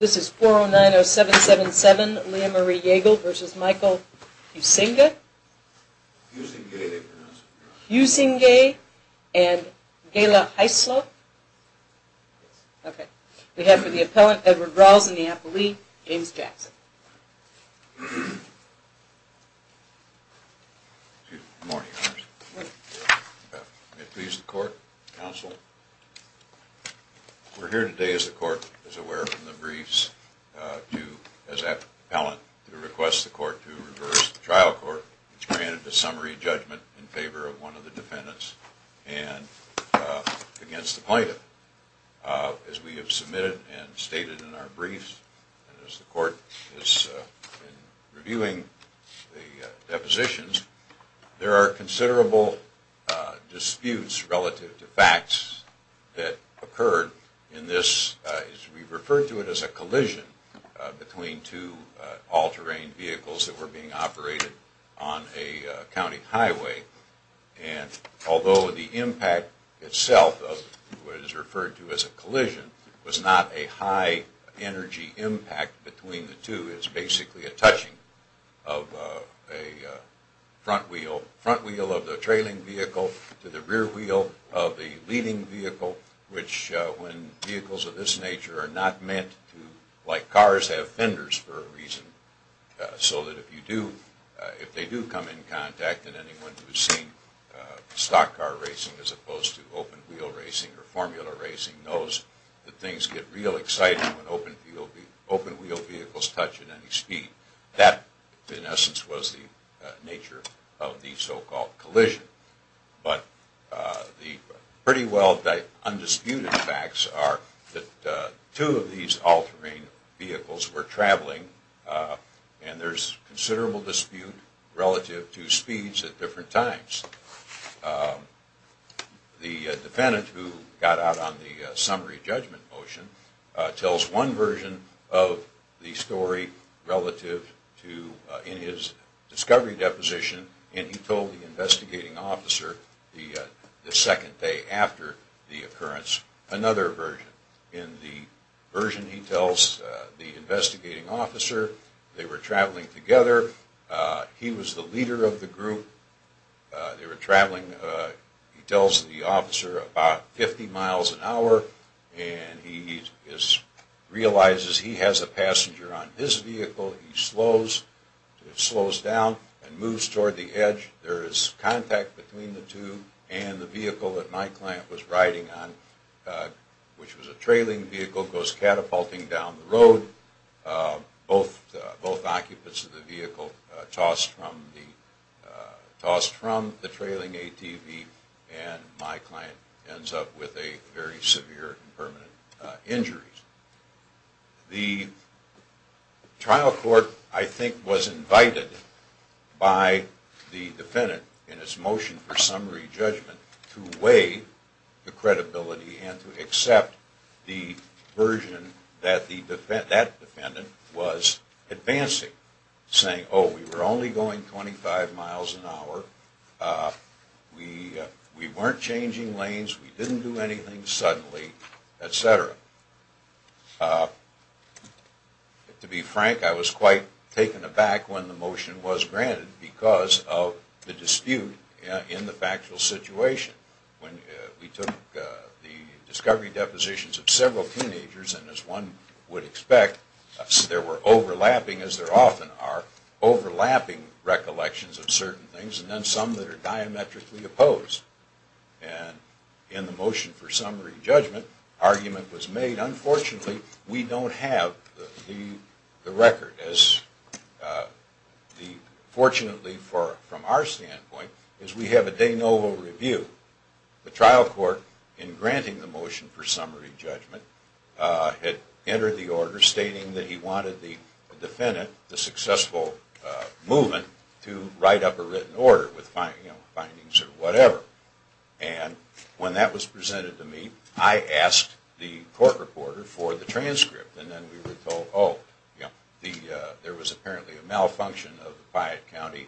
This is 4090777, Lea Marie Yeagle v. Michael Huisinga and Gaila Hyslop. We have for the appellant, Edward Rawls and the apple leaf, James Jackson. May it please the court, counsel. We're here today as the court is aware from the briefs to, as appellant, to request the court to reverse the trial court, which granted the summary judgment in favor of one of the defendants and against the plaintiff. As we have submitted and stated in our briefs, as the court is reviewing the depositions, there are considerable disputes relative to facts that occurred in this, we refer to it as a collision between two all-terrain vehicles that were being operated on a county highway. And although the impact itself, what is referred to as a collision, was not a high energy impact between the two, it's basically a touching of a front wheel of the trailing vehicle to the rear wheel of the leading vehicle, which when vehicles of this nature are not meant to, like cars, have fenders for a reason. So that if you do, if they do come in contact and anyone who has seen stock car racing as opposed to open wheel racing or formula racing knows that things get real exciting when open wheel vehicles touch at any speed. That, in essence, was the nature of the so-called collision. But the pretty well undisputed facts are that two of these all-terrain vehicles were traveling and there's considerable dispute relative to speeds at different times. The defendant, who got out on the summary judgment motion, tells one version of the story relative to, in his discovery deposition, and he told the investigating officer the second day after the occurrence, another version. In the version, he tells the investigating officer they were traveling together. He was the leader of the group. They were traveling, he tells the officer, about 50 miles an hour and he realizes he has a passenger on his vehicle, he slows, slows down and moves toward the edge. There is contact between the two and the vehicle that my client was riding on, which was a trailing vehicle, goes catapulting down the road. Both occupants of the vehicle are tossed from the trailing ATV and my client ends up with a very severe permanent injury. The trial court, I think, was invited by the defendant in its motion for summary judgment to weigh the credibility and to accept the version that that defendant was advancing, saying, oh, we were only going 25 miles an hour, we weren't changing lanes, we didn't do anything suddenly, etc. To be frank, I was quite taken aback when the motion was granted because of the dispute in the factual situation. We took the discovery depositions of several teenagers and, as one would expect, there were overlapping, as there often are, overlapping recollections of certain things and then some that are diametrically opposed. And in the motion for summary judgment, an argument was made, unfortunately, we don't have the record. Fortunately, from our standpoint, we have a de novo review. The trial court, in granting the motion for summary judgment, had entered the order stating that he wanted the defendant, the successful movement, to write up a written order with findings or whatever. And when that was presented to me, I asked the court reporter for the transcript and then we were told, oh, there was apparently a malfunction of the Quiet County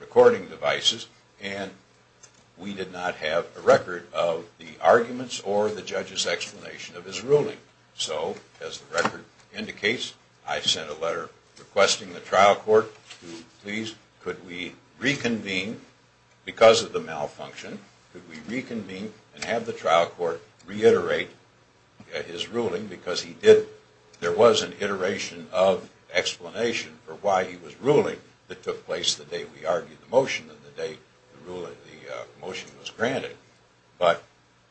recording devices and we did not have a record of the arguments or the judge's explanation of his ruling. So, as the record indicates, I sent a letter requesting the trial court to please, could we reconvene, because of the malfunction, could we reconvene and have the trial court reiterate his ruling because there was an iteration of explanation for why he was ruling that took place the day we argued the motion and the day the motion was granted. But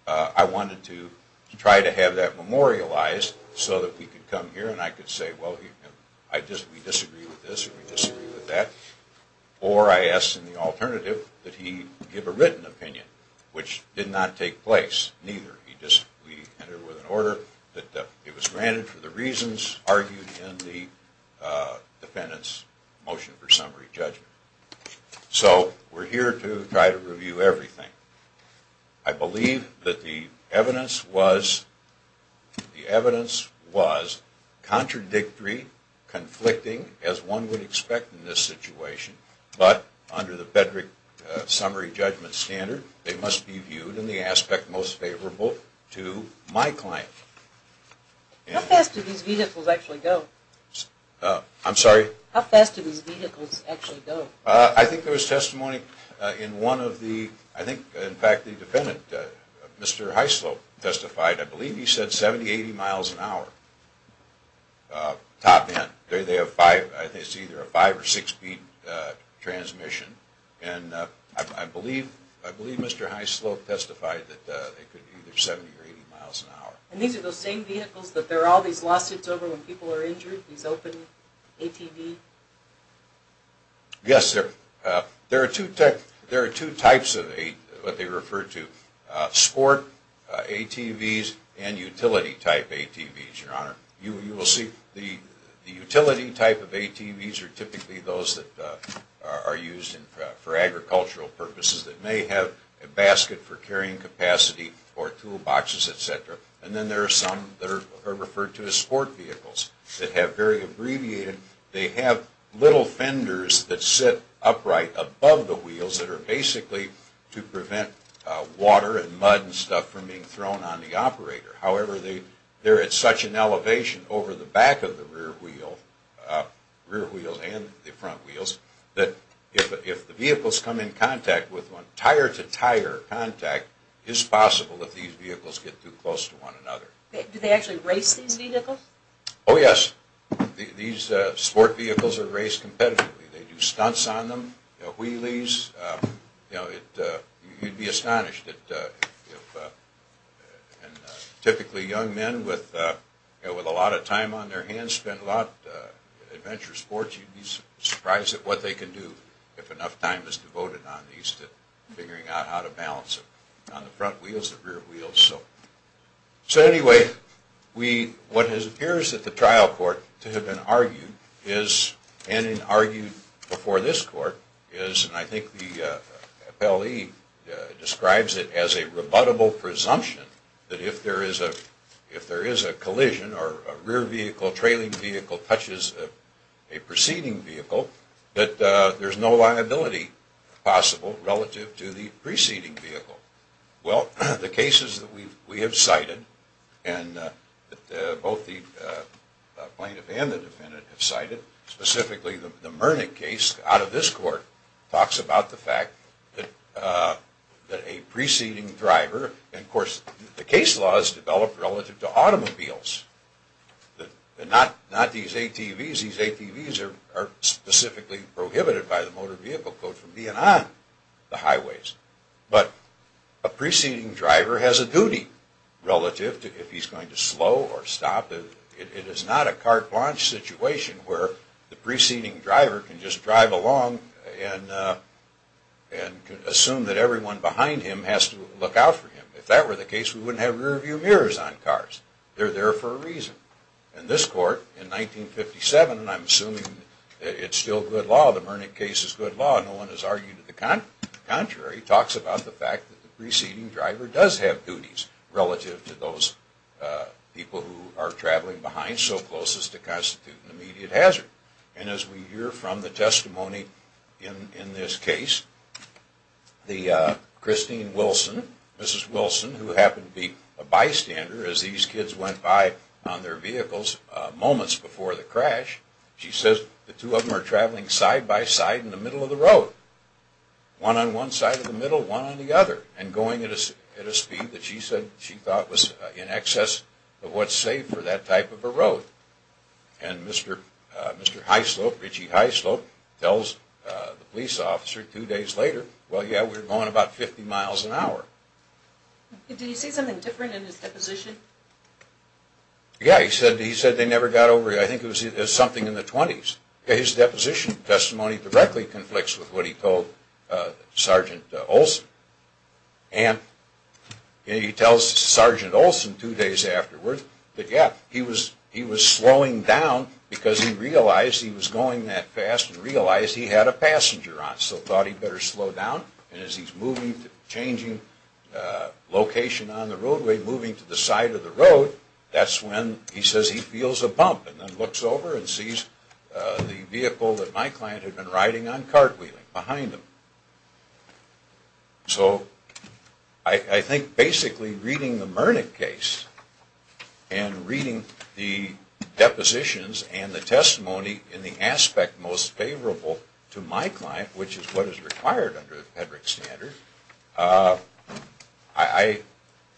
I wanted to try to have that memorialized so that we could come here and I could say, well, we disagree with this or we disagree with that. Or I asked in the alternative that he give a written opinion, which did not take place, neither. He just, we entered with an order that it was granted for the reasons argued in the defendant's motion for summary judgment. So, we're here to try to review everything. I believe that the evidence was contradictory, conflicting, as one would expect in this situation, but under the Federick summary judgment standard, they must be viewed in the aspect most favorable. So, I'm going to go to my client. How fast do these vehicles actually go? I'm sorry? How fast do these vehicles actually go? I think there was testimony in one of the, I think, in fact, the defendant, Mr. Hyslop, testified. I believe he said 70, 80 miles an hour. Top end. They have five, I think it's either a five or six speed transmission. And I believe Mr. Hyslop testified that they could be either 70 or 80 miles an hour. And these are those same vehicles that there are all these lawsuits over when people are injured? These open ATVs? Yes. There are two types of what they refer to. Sport ATVs and utility type ATVs, Your Honor. You will see the utility type of ATVs are typically those that are used for agricultural purposes that may have a basket for carrying capacity or tool boxes, etc. And then there are some that are referred to as sport vehicles that have very abbreviated. They have little fenders that sit upright above the wheels that are basically to prevent water and mud and stuff from being thrown on the operator. However, they're at such an elevation over the back of the rear wheel, rear wheels and the front wheels, that if the vehicles come in contact with one, tire to tire contact, it's possible that these vehicles get too close to one another. Do they actually race these vehicles? Oh, yes. These sport vehicles are raced competitively. They do stunts on them, wheelies. You'd be astonished. Typically young men with a lot of time on their hands spend a lot in adventure sports. You'd be surprised at what they can do if enough time is devoted on these to figuring out how to balance on the front wheels and rear wheels. So anyway, what appears at the trial court to have been argued and argued before this court is, and I think the appellee describes it as a rebuttable presumption that if there is a collision or a rear vehicle, trailing vehicle touches a preceding vehicle, that there's no liability possible relative to the preceding vehicle. Well, the cases that we have cited and both the plaintiff and the defendant have cited, specifically the Murnick case out of this court, talks about the fact that a preceding driver, and of course the case law is developed relative to automobiles, not these ATVs. These ATVs are specifically prohibited by the Motor Vehicle Code from being on the highways. But a preceding driver has a duty relative to if he's going to slow or stop. It is not a carte blanche situation where the preceding driver can just drive along and assume that everyone behind him has to look out for him. If that were the case, we wouldn't have rearview mirrors on cars. They're there for a reason. In this court, in 1957, and I'm assuming it's still good law, the Murnick case is good law, no one has argued the contrary, talks about the fact that the preceding driver does have duties relative to those people who are traveling behind so close as to constitute an immediate hazard. And as we hear from the testimony in this case, Christine Wilson, Mrs. Wilson, who happened to be a bystander as these kids went by on their vehicles moments before the crash, she says the two of them are traveling side by side in the middle of the road, one on one side of the middle, one on the other, and going at a speed that she thought was in excess of what's safe for that type of a road. And Mr. Hyslop, Richie Hyslop, tells the police officer two days later, well yeah, we're going about 50 miles an hour. Did he say something different in his deposition? Yeah, he said they never got over it. I think it was something in the 20s. His deposition testimony directly conflicts with what he told Sergeant Olson. And he tells Sergeant Olson two days afterward that yeah, he was slowing down because he realized he was going that fast and realized he had a passenger on, so thought he better slow down. And as he's moving, changing location on the roadway, moving to the side of the road, that's when he says he feels a bump and then looks over and sees the vehicle that my client had been riding on cartwheeling behind him. So I think basically reading the Murnick case and reading the depositions and the testimony in the aspect most favorable to my client, which is what is required under the Pedrick standard, of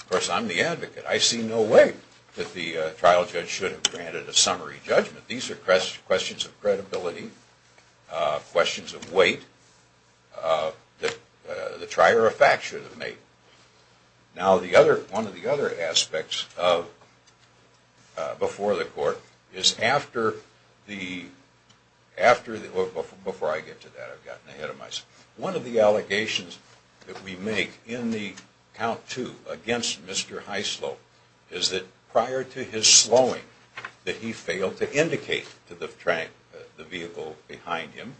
course I'm the advocate. I see no way that the trial judge should have granted a summary judgment. These are questions of credibility, questions of weight, the trier of fact should have made. Now one of the other aspects before the court is after the, before I get to that, I've gotten ahead of myself. One of the allegations that we make in the count two against Mr. Hyslop is that prior to his slowing that he failed to indicate to the vehicle behind him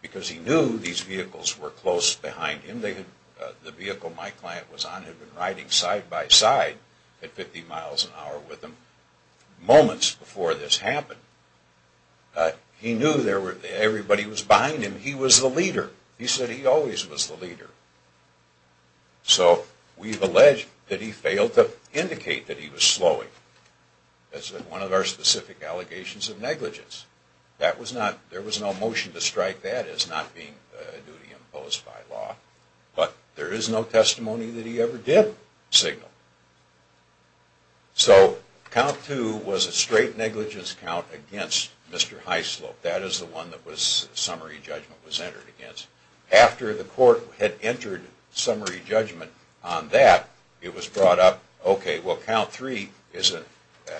because he knew these vehicles were close behind him. The vehicle my client was on had been riding side by side at 50 miles an hour with him moments before this happened. He knew everybody was behind him. He was the leader. He said he always was the leader. So we've alleged that he failed to indicate that he was slowing. That's one of our specific allegations of negligence. There was no motion to strike that as not being a duty imposed by law, but there is no testimony that he ever did signal. So count two was a straight negligence count against Mr. Hyslop. That is the one that summary judgment was entered against. After the court had entered summary judgment on that, it was brought up, okay, well count three is an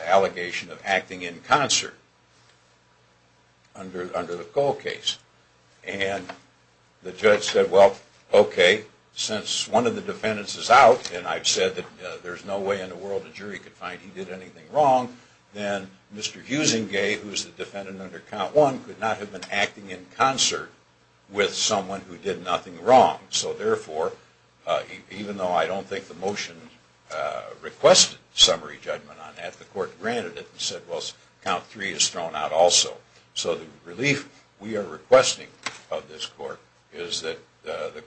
allegation of acting in concert under the Cole case. And the judge said, well, okay, since one of the defendants is out, and I've said that there's no way in the world a jury could find he did anything wrong, then Mr. Husingay, who's the defendant under count one, could not have been acting in concert with someone who did nothing wrong. So therefore, even though I don't think the motion requested summary judgment on that, the court granted it and said, well, count three is thrown out also. So the relief we are requesting of this court is that the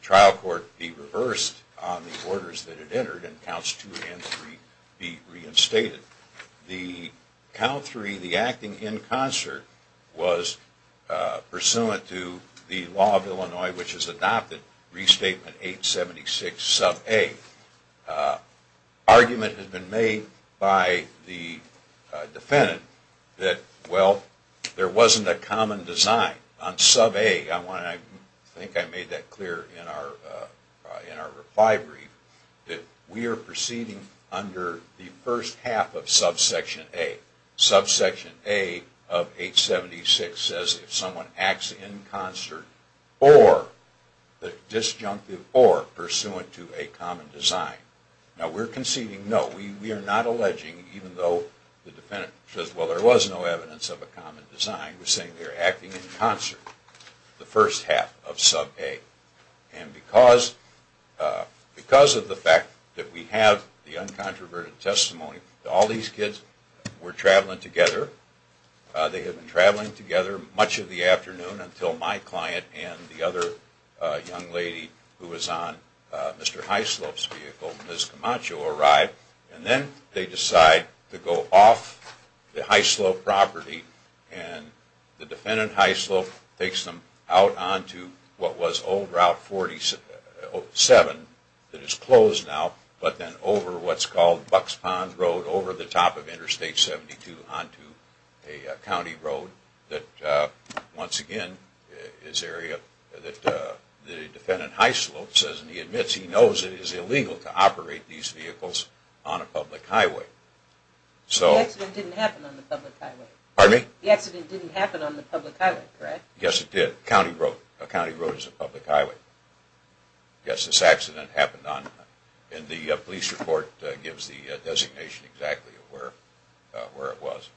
trial court be reversed on the orders that it entered and counts two and three be reinstated. The count three, the acting in concert, was pursuant to the law of Illinois, which is adopted, restatement 876 sub A. The argument has been made by the defendant that, well, there wasn't a common design on sub A. I think I made that clear in our reply brief that we are proceeding under the first half of subsection A. Subsection A of 876 says if someone acts in concert or pursuant to a common design. Now, we're conceding no. We are not alleging, even though the defendant says, well, there was no evidence of a common design. We're saying they're acting in concert, the first half of sub A. And because of the fact that we have the uncontroverted testimony, all these kids were traveling together. They had been traveling together much of the afternoon until my client and the other young lady who was on Mr. Hyslop's vehicle, Ms. Camacho, arrived. And then they decide to go off the Hyslop property and the defendant, Hyslop, takes them out onto what was old Route 47 that is closed now, but then over what's called Bucks Pond Road over the top of Interstate 72 onto a county road that, once again, is area that the defendant, Hyslop, says and he admits he knows it is illegal to operate these vehicles on a public highway. The accident didn't happen on the public highway? Pardon me? The accident didn't happen on the public highway, correct? Yes, it did. A county road is a public highway. Yes, this accident happened on, and the police report gives the designation exactly of where it was.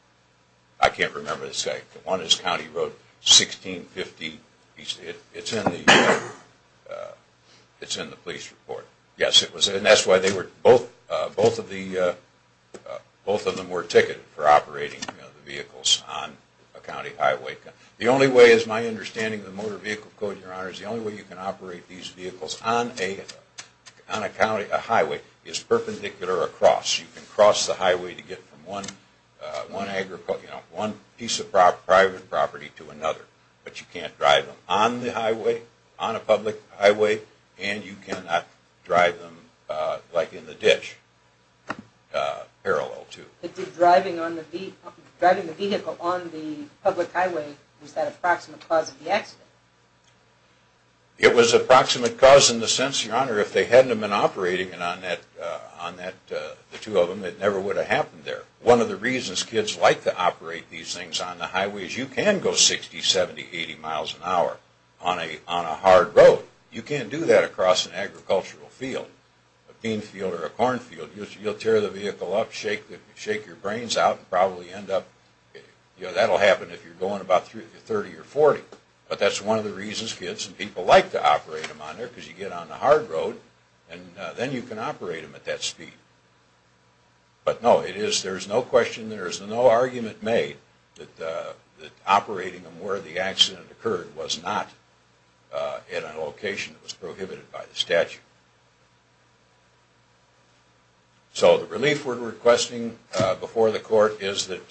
I can't remember the site. One is County Road 1650. It's in the police report. Yes, and that's why both of them were ticketed for operating the vehicles on a county highway. The only way, is my understanding of the Motor Vehicle Code, Your Honor, is the only way you can operate these vehicles on a highway is perpendicular across. You can cross the highway to get from one piece of private property to another, but you can't drive them on the highway, on a public highway, and you cannot drive them like in the ditch, parallel to. Driving the vehicle on the public highway, was that approximate cause of the accident? It was approximate cause in the sense, Your Honor, if they hadn't have been operating it on that, the two of them, it never would have happened there. One of the reasons kids like to operate these things on the highway is you can go 60, 70, 80 miles an hour on a hard road. You can't do that across an agricultural field, a bean field or a corn field. You'll tear the vehicle up, shake your brains out, and probably end up, you know, that'll happen if you're going about 30 or 40. But that's one of the reasons kids and people like to operate them on there, because you get on the hard road, and then you can operate them at that speed. But no, it is, there's no question, there's no argument made that operating them where the accident occurred was not in a location that was prohibited by the statute. So the relief we're requesting before the court is that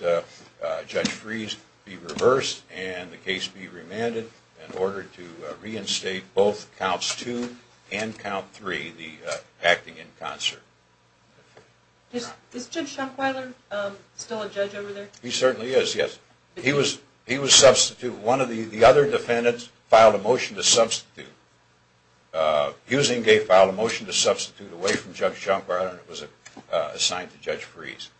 Judge Fries be reversed and the case be remanded in order to reinstate both counts two and count three, the acting in concert. Is Judge Schumpweiler still a judge over there? He certainly is, yes. He was substituted. One of the other defendants filed a motion to substitute. Husing gave, filed a motion to substitute away from Judge Schumpweiler and it was assigned to Judge Fries.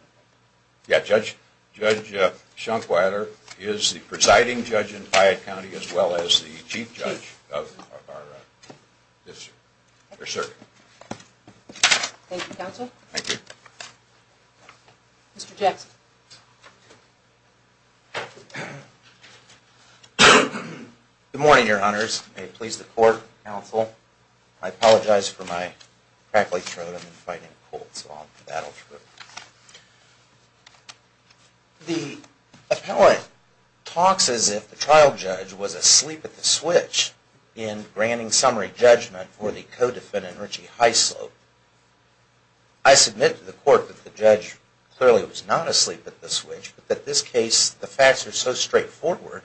Yeah, Judge Schumpweiler is the presiding judge in Hyatt County as well as the chief judge of our district. Thank you, counsel. Thank you. Mr. Jackson. Good morning, your honors. May it please the court, counsel. I apologize for my crackly throat. I've been fighting a cold, so I'll battle through it. The appellate talks as if the trial judge was asleep at the switch in granting summary judgment for the co-defendant, Richie Hyslop. I submit to the court that the judge clearly was not asleep at the switch, but that this case, the facts are so straightforward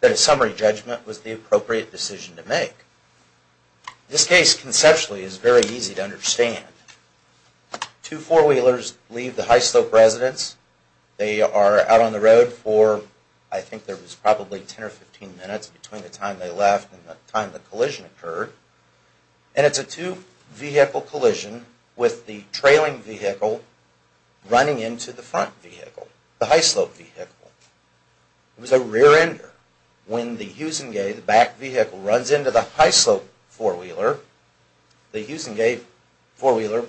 that a summary judgment was the appropriate decision to make. This case, conceptually, is very easy to understand. Two four-wheelers leave the Hyslop residence. They are out on the road for, I think there was probably 10 or 15 minutes between the time they left and the time the collision occurred. And it's a two-vehicle collision with the trailing vehicle running into the front vehicle, the Hyslop vehicle. It was a rear-ender. When the Huesengate, the back vehicle, runs into the Hyslop four-wheeler, the Huesengate four-wheeler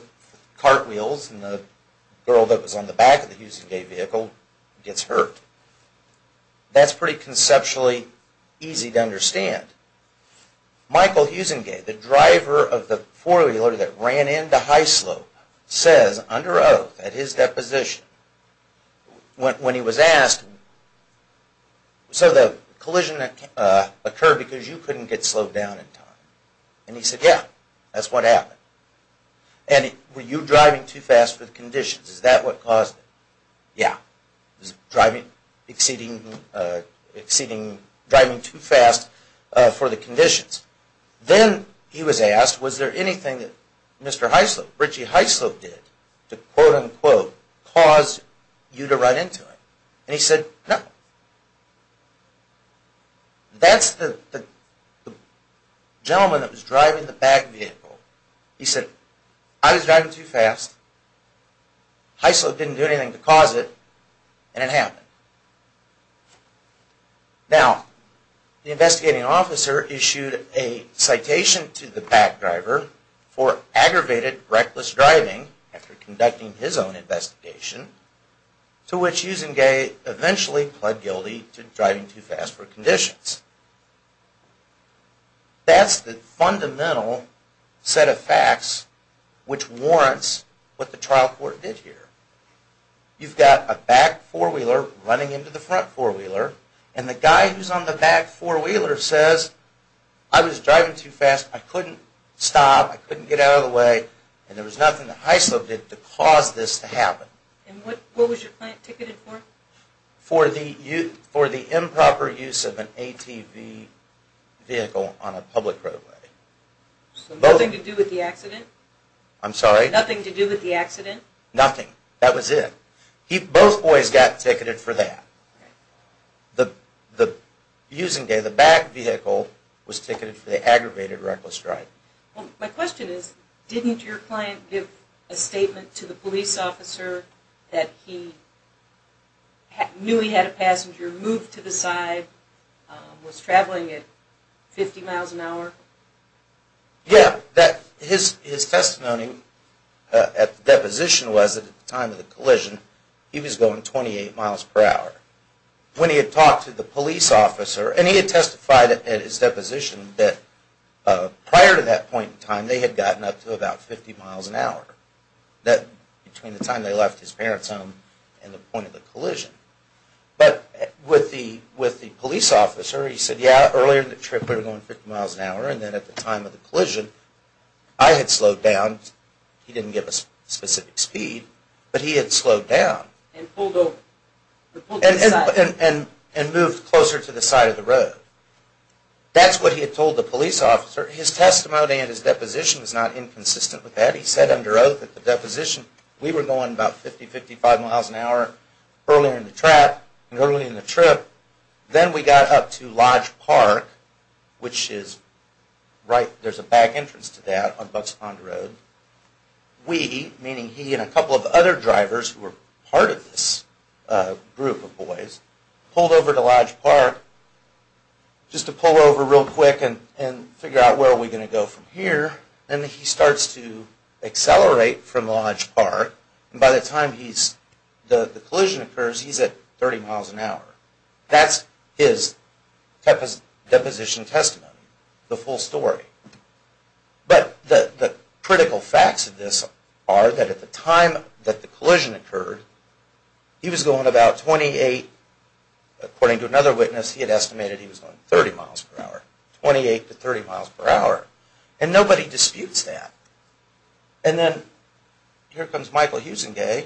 cartwheels and the girl that was on the back of the Huesengate vehicle gets hurt. That's pretty conceptually easy to understand. Michael Huesengate, the driver of the four-wheeler that ran into Hyslop, says under oath, at his deposition, when he was asked, so the collision occurred because you couldn't get slowed down in time. And he said, yeah, that's what happened. And were you driving too fast for the conditions? Is that what caused it? Yeah. He was driving too fast for the conditions. Then he was asked, was there anything that Mr. Hyslop, Richie Hyslop, did to quote-unquote cause you to run into him? And he said, no. That's the gentleman that was driving the back vehicle. He said, I was driving too fast, Hyslop didn't do anything to cause it, and it happened. Now, the investigating officer issued a citation to the back driver for aggravated reckless driving after conducting his own investigation, to which Huesengate eventually pled guilty to driving too fast for conditions. That's the fundamental set of facts which warrants what the trial court did here. You've got a back four-wheeler running into the front four-wheeler, and the guy who's on the back four-wheeler says, I was driving too fast, I couldn't stop, I couldn't get out of the way, and there was nothing that Hyslop did to cause this to happen. And what was your client ticketed for? For the improper use of an ATV vehicle on a public roadway. So nothing to do with the accident? I'm sorry? Nothing to do with the accident? Nothing. That was it. Both boys got ticketed for that. The Huesengate, the back vehicle, was ticketed for the aggravated reckless driving. Well, my question is, didn't your client give a statement to the police officer that he knew he had a passenger, moved to the side, was traveling at 50 miles an hour? Yeah, his testimony at the deposition was, at the time of the collision, he was going 28 miles per hour. When he had talked to the police officer, and he had testified at his deposition that prior to that point in time, they had gotten up to about 50 miles an hour. Between the time they left his parents' home and the point of the collision. But with the police officer, he said, yeah, earlier in the trip we were going 50 miles an hour, and then at the time of the collision, I had slowed down, he didn't give a specific speed, but he had slowed down. And pulled over. And moved closer to the side of the road. That's what he had told the police officer. His testimony at his deposition is not inconsistent with that. He said under oath at the deposition, we were going about 50, 55 miles an hour earlier in the track and earlier in the trip. Then we got up to Lodge Park, which is right, there's a back entrance to that on Bucks Pond Road. We, meaning he and a couple of other drivers who were part of this group of boys, pulled over to Lodge Park, just to pull over real quick and figure out where are we going to go from here. And he starts to accelerate from Lodge Park, and by the time the collision occurs, he's at 30 miles an hour. That's his deposition testimony. The full story. But the critical facts of this are that at the time that the collision occurred, he was going about 28, according to another witness, he had estimated he was going 30 miles per hour. 28 to 30 miles per hour. And nobody disputes that. And then, here comes Michael Huesenga,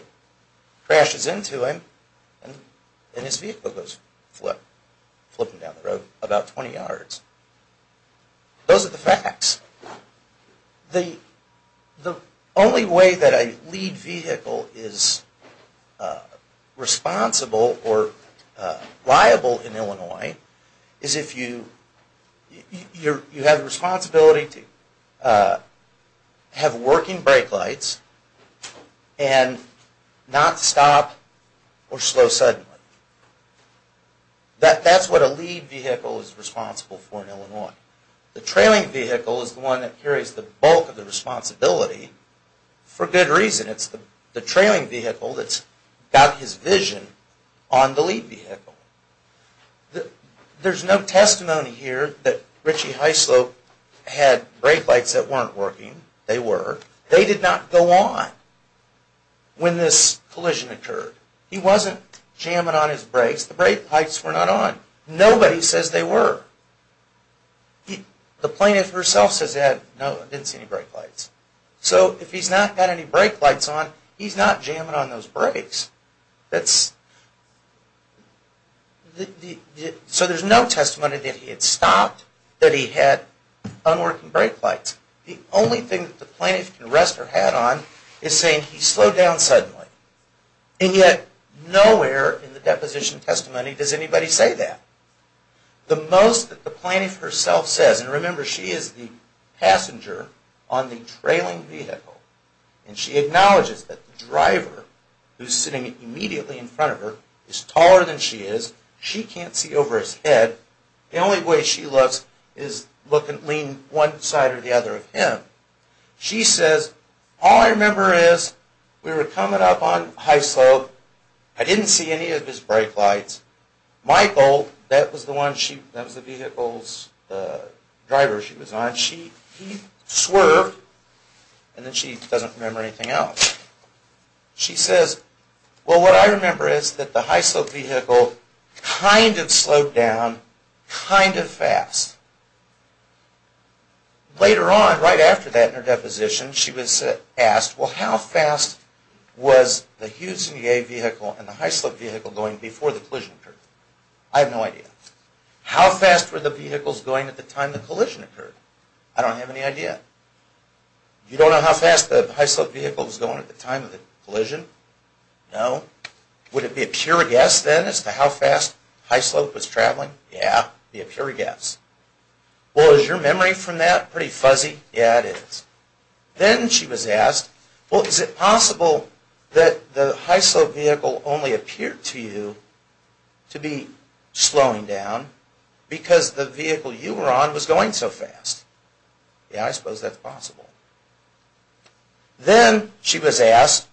crashes into him, and his vehicle goes flip. Flipping down the road about 20 yards. Those are the facts. The only way that a lead vehicle is responsible or liable in Illinois, is if you have the responsibility to have working brake lights and not stop or slow suddenly. That's what a lead vehicle is responsible for in Illinois. The trailing vehicle is the one that carries the bulk of the responsibility, for good reason. It's the trailing vehicle that's got his vision on the lead vehicle. There's no testimony here that Richie Hyslop had brake lights that weren't working. They were. They did not go on when this collision occurred. He wasn't jamming on his brakes. The brake lights were not on. Nobody says they were. The plaintiff herself says, no, I didn't see any brake lights. So if he's not got any brake lights on, he's not jamming on those brakes. So there's no testimony that he had stopped, that he had unworking brake lights. The only thing that the plaintiff can rest her head on is saying he slowed down suddenly. And yet nowhere in the deposition testimony does anybody say that. The most that the plaintiff herself says, and remember she is the passenger on the trailing vehicle, and she acknowledges that the driver who's sitting immediately in front of her is taller than she is. She can't see over his head. The only way she looks is look and lean one side or the other of him. She says, all I remember is we were coming up on high slope. I didn't see any of his brake lights. Michael, that was the vehicle's driver she was on, he swerved. And then she doesn't remember anything else. She says, well, what I remember is that the high slope vehicle kind of slowed down kind of fast. Later on, right after that in her deposition, she was asked, well how fast was the Hughes and Gay vehicle and the high slope vehicle going before the collision occurred? I have no idea. How fast were the vehicles going at the time the collision occurred? I don't have any idea. You don't know how fast the high slope vehicle was going at the time of the collision? No. Would it be a pure guess then as to how fast high slope was traveling? Yeah, it would be a pure guess. Well, is your memory from that pretty fuzzy? Yeah, it is. Then she was asked, well, is it possible that the high slope vehicle only appeared to you to be slowing down because the vehicle you were on was going so fast? Yeah, I suppose that's possible. Then she was asked,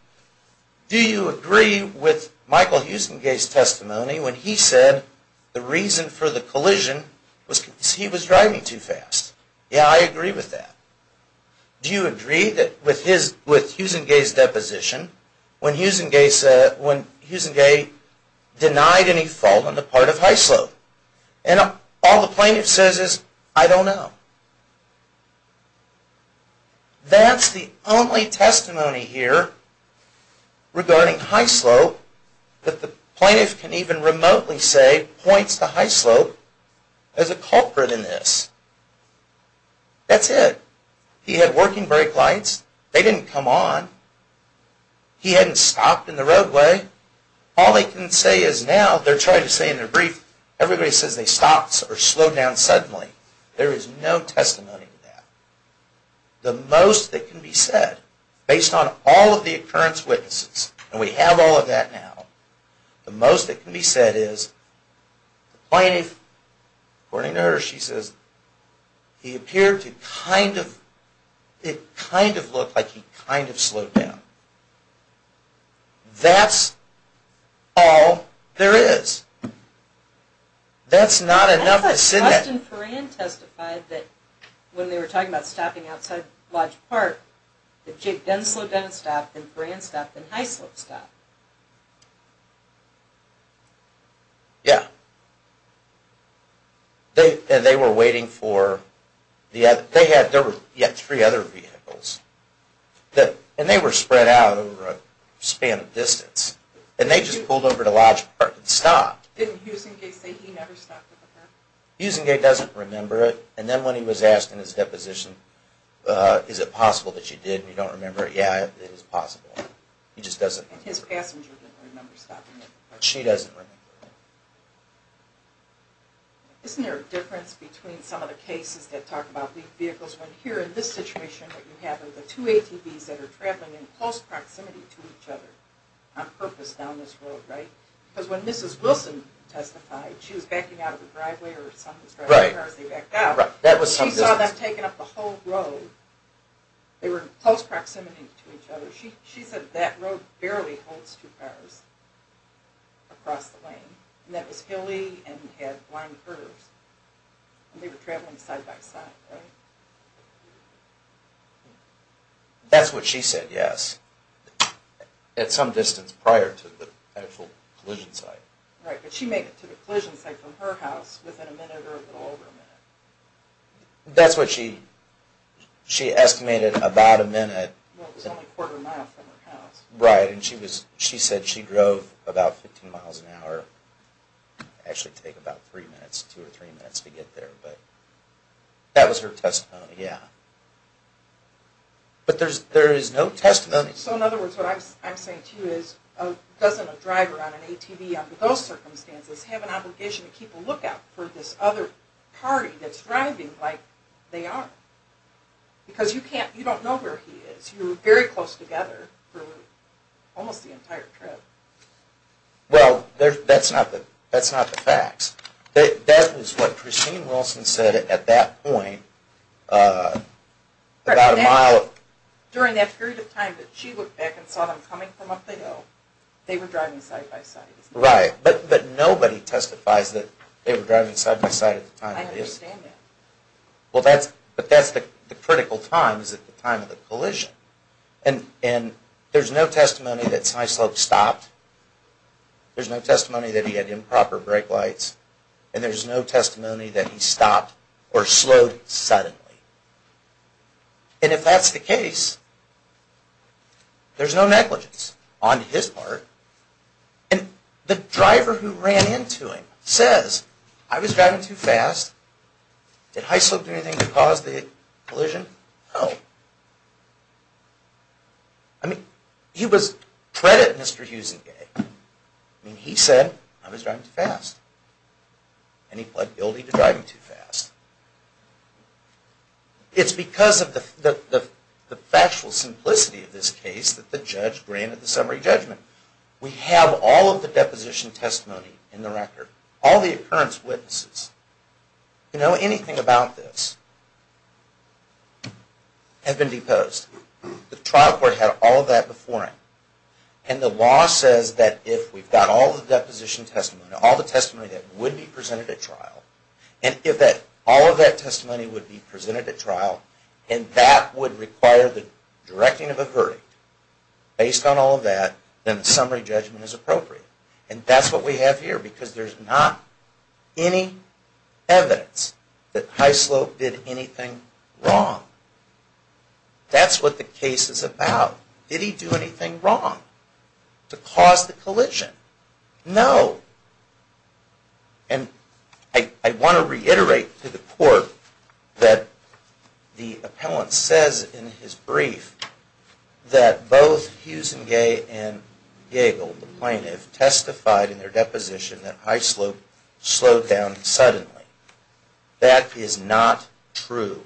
do you agree with Michael Hughes and Gay's testimony when he said the reason for the collision was because he was driving too fast? Yeah, I agree with that. Do you agree with Hughes and Gay's deposition when Hughes and Gay denied any fault on the part of high slope? And all the plaintiff says is, I don't know. That's the only testimony here regarding high slope that the plaintiff can even remotely say points to high slope as a culprit in this. That's it. He had working brake lights. They didn't come on. He hadn't stopped in the roadway. All they can say is now, they're trying to say in their brief, everybody says they stopped or slowed down suddenly. There is no testimony to that. The most that can be said, based on all of the occurrence witnesses, and we have all of that now, the most that can be said is the plaintiff, according to her, she says, he appeared to kind of, it kind of looked like he kind of slowed down. That's all there is. That's not enough to say that. I thought Justin Foran testified that when they were talking about stopping outside Lodge Park, that Jake Dunn slowed down and stopped, then Foran stopped, then high slope stopped. Yeah. And they were waiting for, they had, there were three other vehicles. And they were spread out over a span of distance. And they just pulled over to Lodge Park and stopped. Didn't Husingate say he never stopped at the parking lot? Husingate doesn't remember it. And then when he was asked in his deposition, is it possible that she did and you don't remember it, yeah, it is possible. He just doesn't remember it. And his passenger didn't remember stopping at the parking lot. She doesn't remember it. Isn't there a difference between some of the cases that talk about these vehicles, when here in this situation what you have are the two ATVs that are traveling in close proximity to each other on purpose down this road, right? Because when Mrs. Wilson testified, she was backing out of the driveway or some of the cars, they backed out. She saw them taking up the whole road. They were in close proximity to each other. She said that road barely holds two cars across the lane. And that was hilly and had blind curves. And they were traveling side by side, right? That's what she said, yes. At some distance prior to the actual collision site. Right, but she made it to the collision site from her house within a minute or a little over a minute. That's what she estimated, about a minute. Well, it was only a quarter mile from her house. Right, and she said she drove about 15 miles an hour. Actually, it would take about three minutes, two or three minutes to get there. That was her testimony, yeah. But there is no testimony. So in other words, what I'm saying to you is, doesn't a driver on an ATV under those circumstances have an obligation to keep a lookout for this other party that's driving like they are? Because you don't know where he is. You were very close together for almost the entire trip. Well, that's not the facts. That was what Christine Wilson said at that point, about a mile. During that period of time that she looked back and saw them coming from up the hill, they were driving side by side. Right, but nobody testifies that they were driving side by side at the time. I understand that. But that's the critical time, is at the time of the collision. And there's no testimony that High Slope stopped. There's no testimony that he had improper brake lights. And there's no testimony that he stopped or slowed suddenly. And if that's the case, there's no negligence on his part. And the driver who ran into him says, I was driving too fast. Did High Slope do anything to cause the collision? No. I mean, he was treading Mr. Huizinga. I mean, he said, I was driving too fast. And he pled guilty to driving too fast. It's because of the factual simplicity of this case that the judge granted the summary judgment. We have all of the deposition testimony in the record. All the occurrence witnesses. You know, anything about this has been deposed. The trial court had all of that before him. And the law says that if we've got all the deposition testimony, all the testimony that would be presented at trial, and if all of that testimony would be presented at trial, and that would require the directing of a verdict based on all of that, then the summary judgment is appropriate. And that's what we have here, because there's not any evidence that High Slope did anything wrong. That's what the case is about. Did he do anything wrong to cause the collision? No. And I want to reiterate to the court that the appellant says in his brief that both Huizinga and Yagle, the plaintiff, testified in their deposition that High Slope slowed down suddenly. That is not true.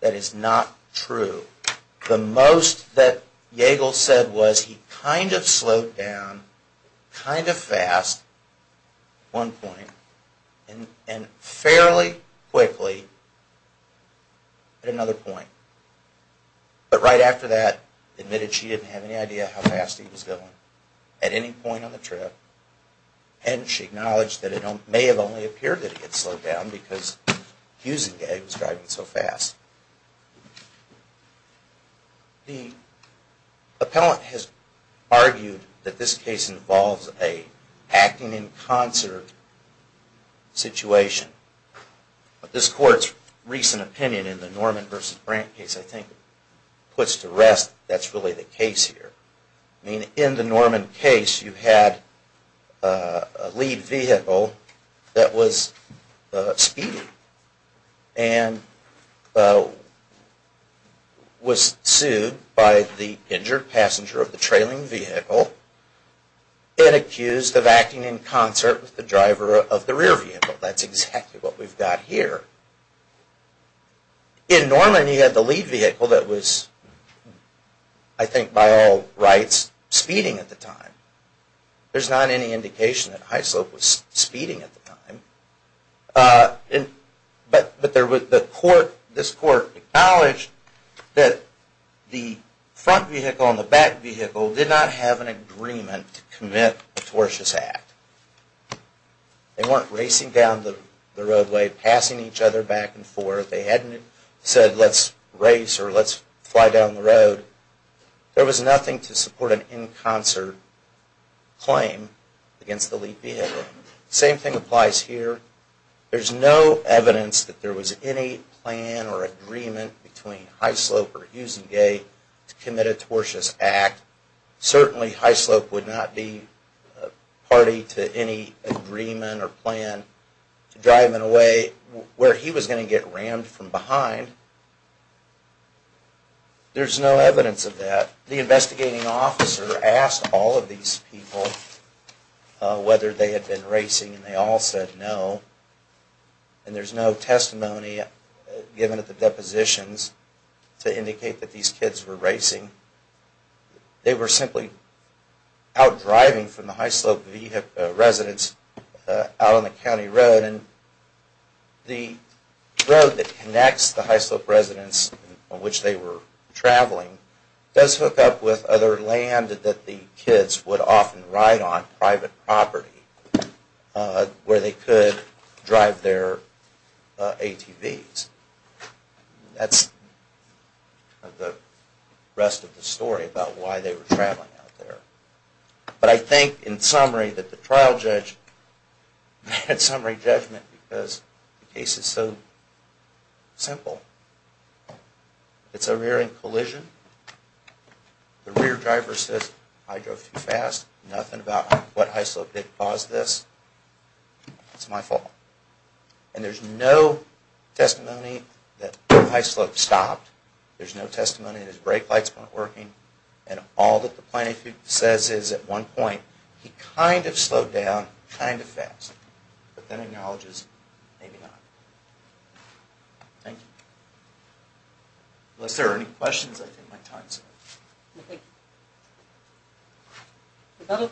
That is not true. The most that Yagle said was he kind of slowed down, kind of fast at one point, and fairly quickly at another point. But right after that, admitted she didn't have any idea how fast he was going at any point on the trip, and she acknowledged that it may have only appeared that he had slowed down because Huizinga was driving so fast. The appellant has argued that this case involves an acting in concert situation. But this court's recent opinion in the Norman v. Brandt case, I think, puts to rest that that's really the case here. I mean, in the Norman case, you had a lead vehicle that was speeding, and was sued by the injured passenger of the trailing vehicle, and accused of acting in concert with the driver of the rear vehicle. That's exactly what we've got here. In Norman, you had the lead vehicle that was, I think by all rights, speeding at the time. There's not any indication that High Slope was speeding at the time. But this court acknowledged that the front vehicle and the back vehicle did not have an agreement to commit a tortious act. They weren't racing down the roadway, passing each other back and forth. They hadn't said, let's race or let's fly down the road. There was nothing to support an in concert claim against the lead vehicle. Same thing applies here. There's no evidence that there was any plan or agreement between High Slope or Husingate to commit a tortious act. Certainly, High Slope would not be party to any agreement or plan to drive in a way where he was going to get rammed from behind. There's no evidence of that. The investigating officer asked all of these people whether they had been racing and they all said no. And there's no testimony given at the depositions to indicate that these kids were racing. They were simply out driving from the High Slope residence out on the county road. And the road that connects the High Slope residence on which they were traveling does hook up with other land that the kids would often ride on, private property, where they could drive their ATVs. That's the rest of the story about why they were traveling out there. But I think in summary that the trial judge had summary judgment because the case is so simple. It's a rear end collision. The rear driver says I drove too fast. Nothing about what High Slope did caused this. It's my fault. And there's no testimony that High Slope stopped. There's no testimony that his brake lights weren't working. And all that the plaintiff says is at one point he kind of slowed down, kind of fast. But then acknowledges maybe not. Thank you. Unless there are any questions, I think my time is up. Okay. Rebuttal.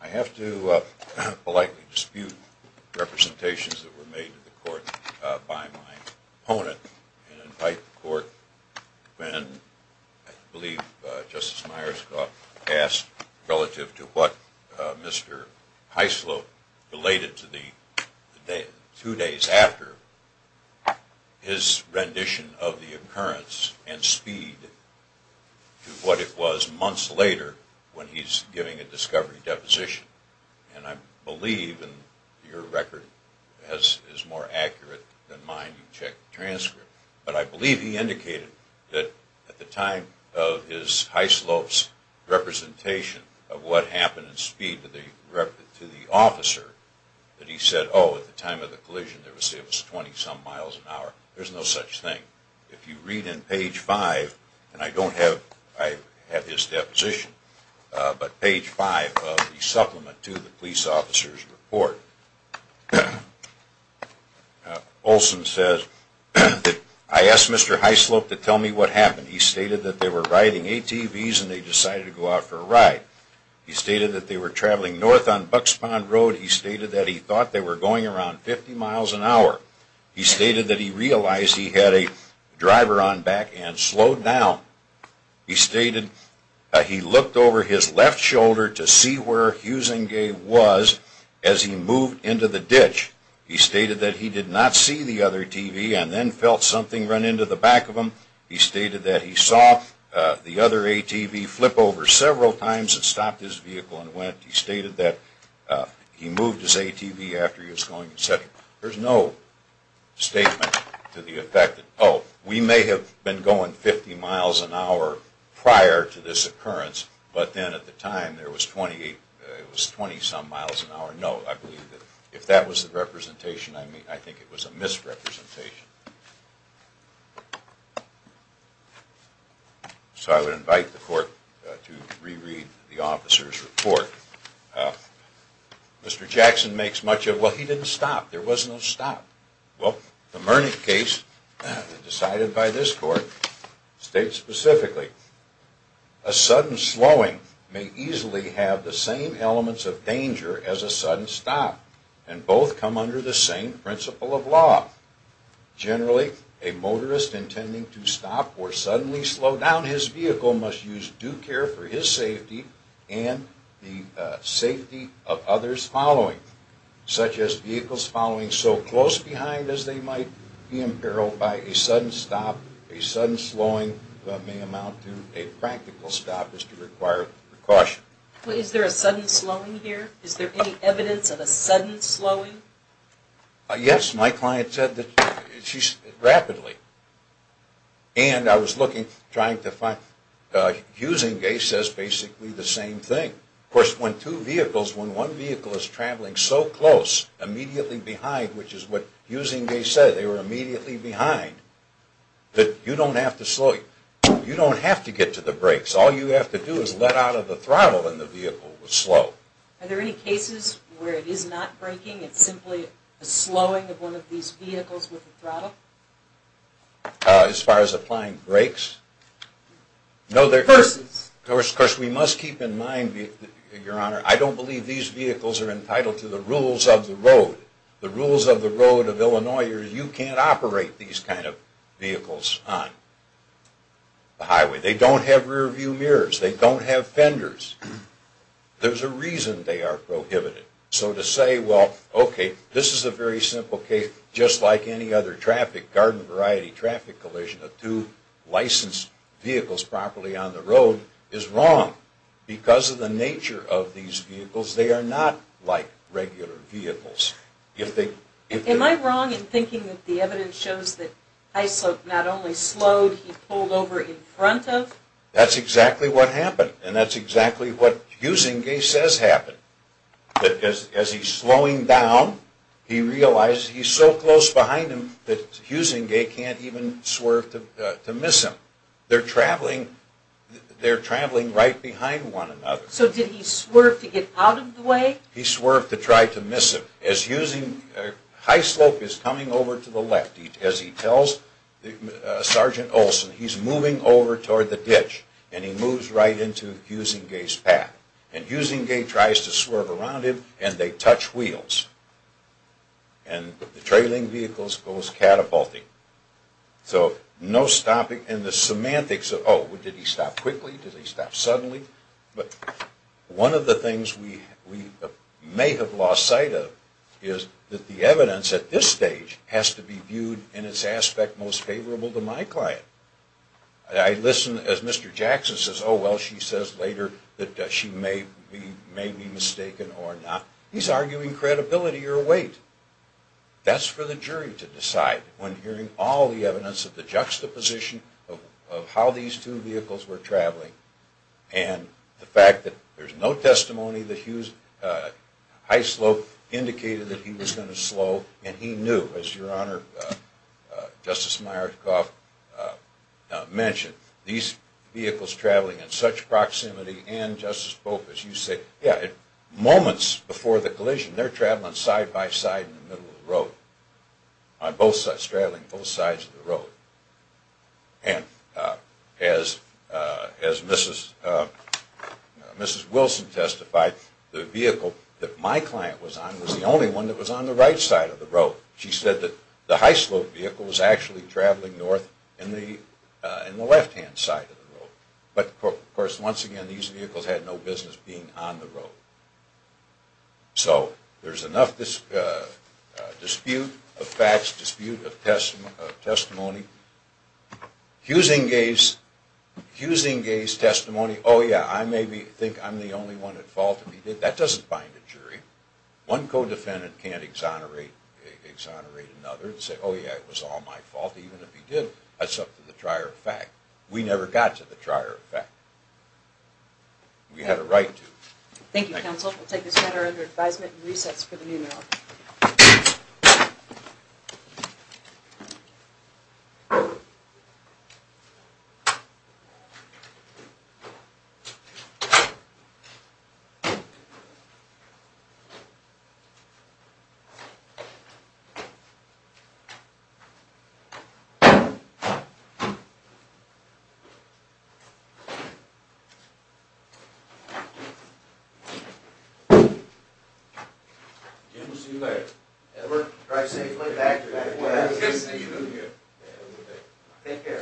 I have to politely dispute representations that were made to the court by my opponent. I believe Justice Myers asked relative to what Mr. High Slope related to the two days after, his rendition of the occurrence and speed to what it was months later when he's giving a discovery deposition. And I believe, and your record is more accurate than mine, you can check the transcript. But I believe he indicated that at the time of his High Slope's representation of what happened in speed to the officer, that he said, oh, at the time of the collision it was 20 some miles an hour. There's no such thing. If you read in page 5, and I don't have his deposition, but page 5 of the supplement to the police officer's report, Olson says that I asked Mr. High Slope to tell me what happened. He stated that they were riding ATVs and they decided to go out for a ride. He stated that they were traveling north on Bucks Pond Road. He stated that he thought they were going around 50 miles an hour. He stated that he realized he had a driver on back and slowed down. He stated that he looked over his left shoulder to see where Huizinga was as he moved into the ditch. He stated that he did not see the other ATV and then felt something run into the back of him. He stated that he saw the other ATV flip over several times and stopped his vehicle and went. He stated that he moved his ATV after he was going. There's no statement to the effect that, oh, we may have been going 50 miles an hour prior to this occurrence, but then at the time it was 20 some miles an hour. No, I believe that if that was the representation, I think it was a misrepresentation. So I would invite the court to reread the officer's report. Mr. Jackson makes much of, well, he didn't stop. There was no stop. Well, the Mernick case decided by this court states specifically, a sudden slowing may easily have the same elements of danger as a sudden stop, and both come under the same principle of law. Generally, a motorist intending to stop or suddenly slow down his vehicle must use due care for his safety and the safety of others following, such as vehicles following so close behind as they might be imperiled by a sudden stop. A sudden slowing may amount to a practical stop as to require precaution. Is there a sudden slowing here? Is there any evidence of a sudden slowing? Yes, my client said that she's rapidly. And I was looking, trying to find, Husingay says basically the same thing. Of course, when two vehicles, when one vehicle is traveling so close, immediately behind, which is what Husingay said, they were immediately behind, that you don't have to slow, you don't have to get to the brakes. All you have to do is let out of the throttle and the vehicle will slow. Are there any cases where it is not braking, it's simply a slowing of one of these vehicles with the throttle? As far as applying brakes? Versus. Of course, we must keep in mind, Your Honor, I don't believe these vehicles are entitled to the rules of the road. The rules of the road of Illinois are you can't operate these kind of vehicles on the highway. They don't have rearview mirrors. They don't have fenders. There's a reason they are prohibited. So to say, well, okay, this is a very simple case. Just like any other traffic, garden variety traffic collision, two licensed vehicles properly on the road is wrong. Because of the nature of these vehicles, they are not like regular vehicles. Am I wrong in thinking that the evidence shows that Hyslop not only slowed, he pulled over in front of? That's exactly what happened. And that's exactly what Husingay says happened. That as he's slowing down, he realized he's so close behind him that Husingay can't even swerve to miss him. They're traveling right behind one another. So did he swerve to get out of the way? He swerved to try to miss him. As Hyslop is coming over to the left, as he tells Sergeant Olson, he's moving over toward the ditch, and he moves right into Husingay's path. And Husingay tries to swerve around him, and they touch wheels. And the trailing vehicle goes catapulting. So no stopping. And the semantics of, oh, did he stop quickly? Did he stop suddenly? But one of the things we may have lost sight of is that the evidence at this stage has to be viewed in its aspect most favorable to my client. I listen as Mr. Jackson says, oh, well, she says later that she may be mistaken or not. He's arguing credibility or weight. That's for the jury to decide when hearing all the evidence of the juxtaposition of how these two vehicles were traveling and the fact that there's no testimony that Hyslop indicated that he was going to slow, and he knew, as Your Honor, Justice Myertkoff mentioned, these vehicles traveling in such proximity and, Justice Bokas, you say, yeah, moments before the collision, they're traveling side by side in the middle of the road, traveling both sides of the road. And as Mrs. Wilson testified, the vehicle that my client was on was the only one that was on the right side of the road. She said that the Hyslop vehicle was actually traveling north in the left-hand side of the road. But, of course, once again, these vehicles had no business being on the road. So there's enough dispute of facts, dispute of testimony. Huizinga's testimony, oh, yeah, I maybe think I'm the only one at fault. That doesn't bind a jury. One co-defendant can't exonerate another and say, oh, yeah, it was all my fault, even if he did. That's up to the trier of fact. We never got to the trier of fact. We had a right to. Thank you, counsel. We'll take this matter under advisement and resets for the meeting. Thank you. Jim, we'll see you later. Edward, drive safely. Take care. Take care. Thank you. All right. Goodbye.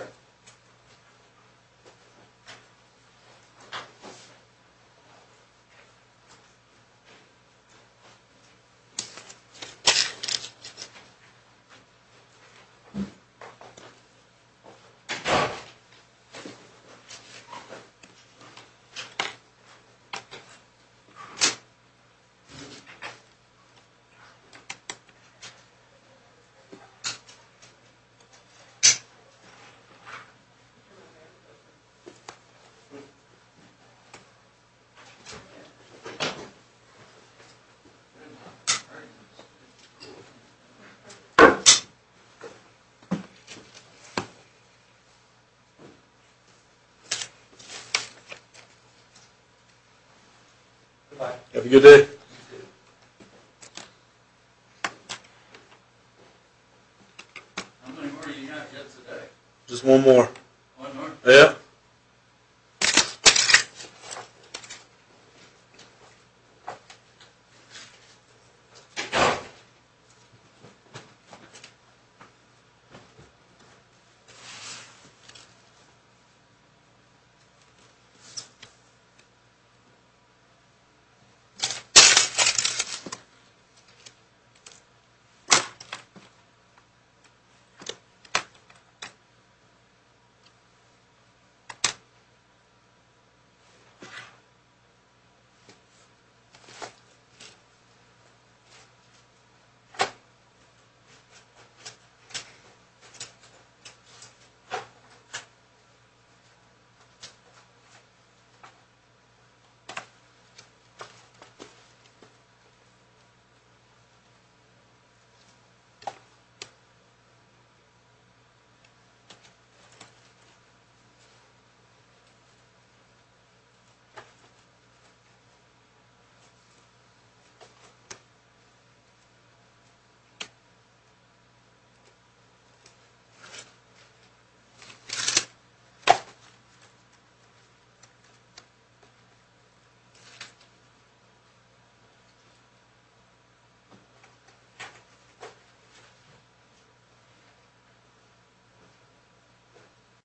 Have a good day. How many more do you have yet today? Just one more. One more? Yeah. Thank you. Thank you. Thank you.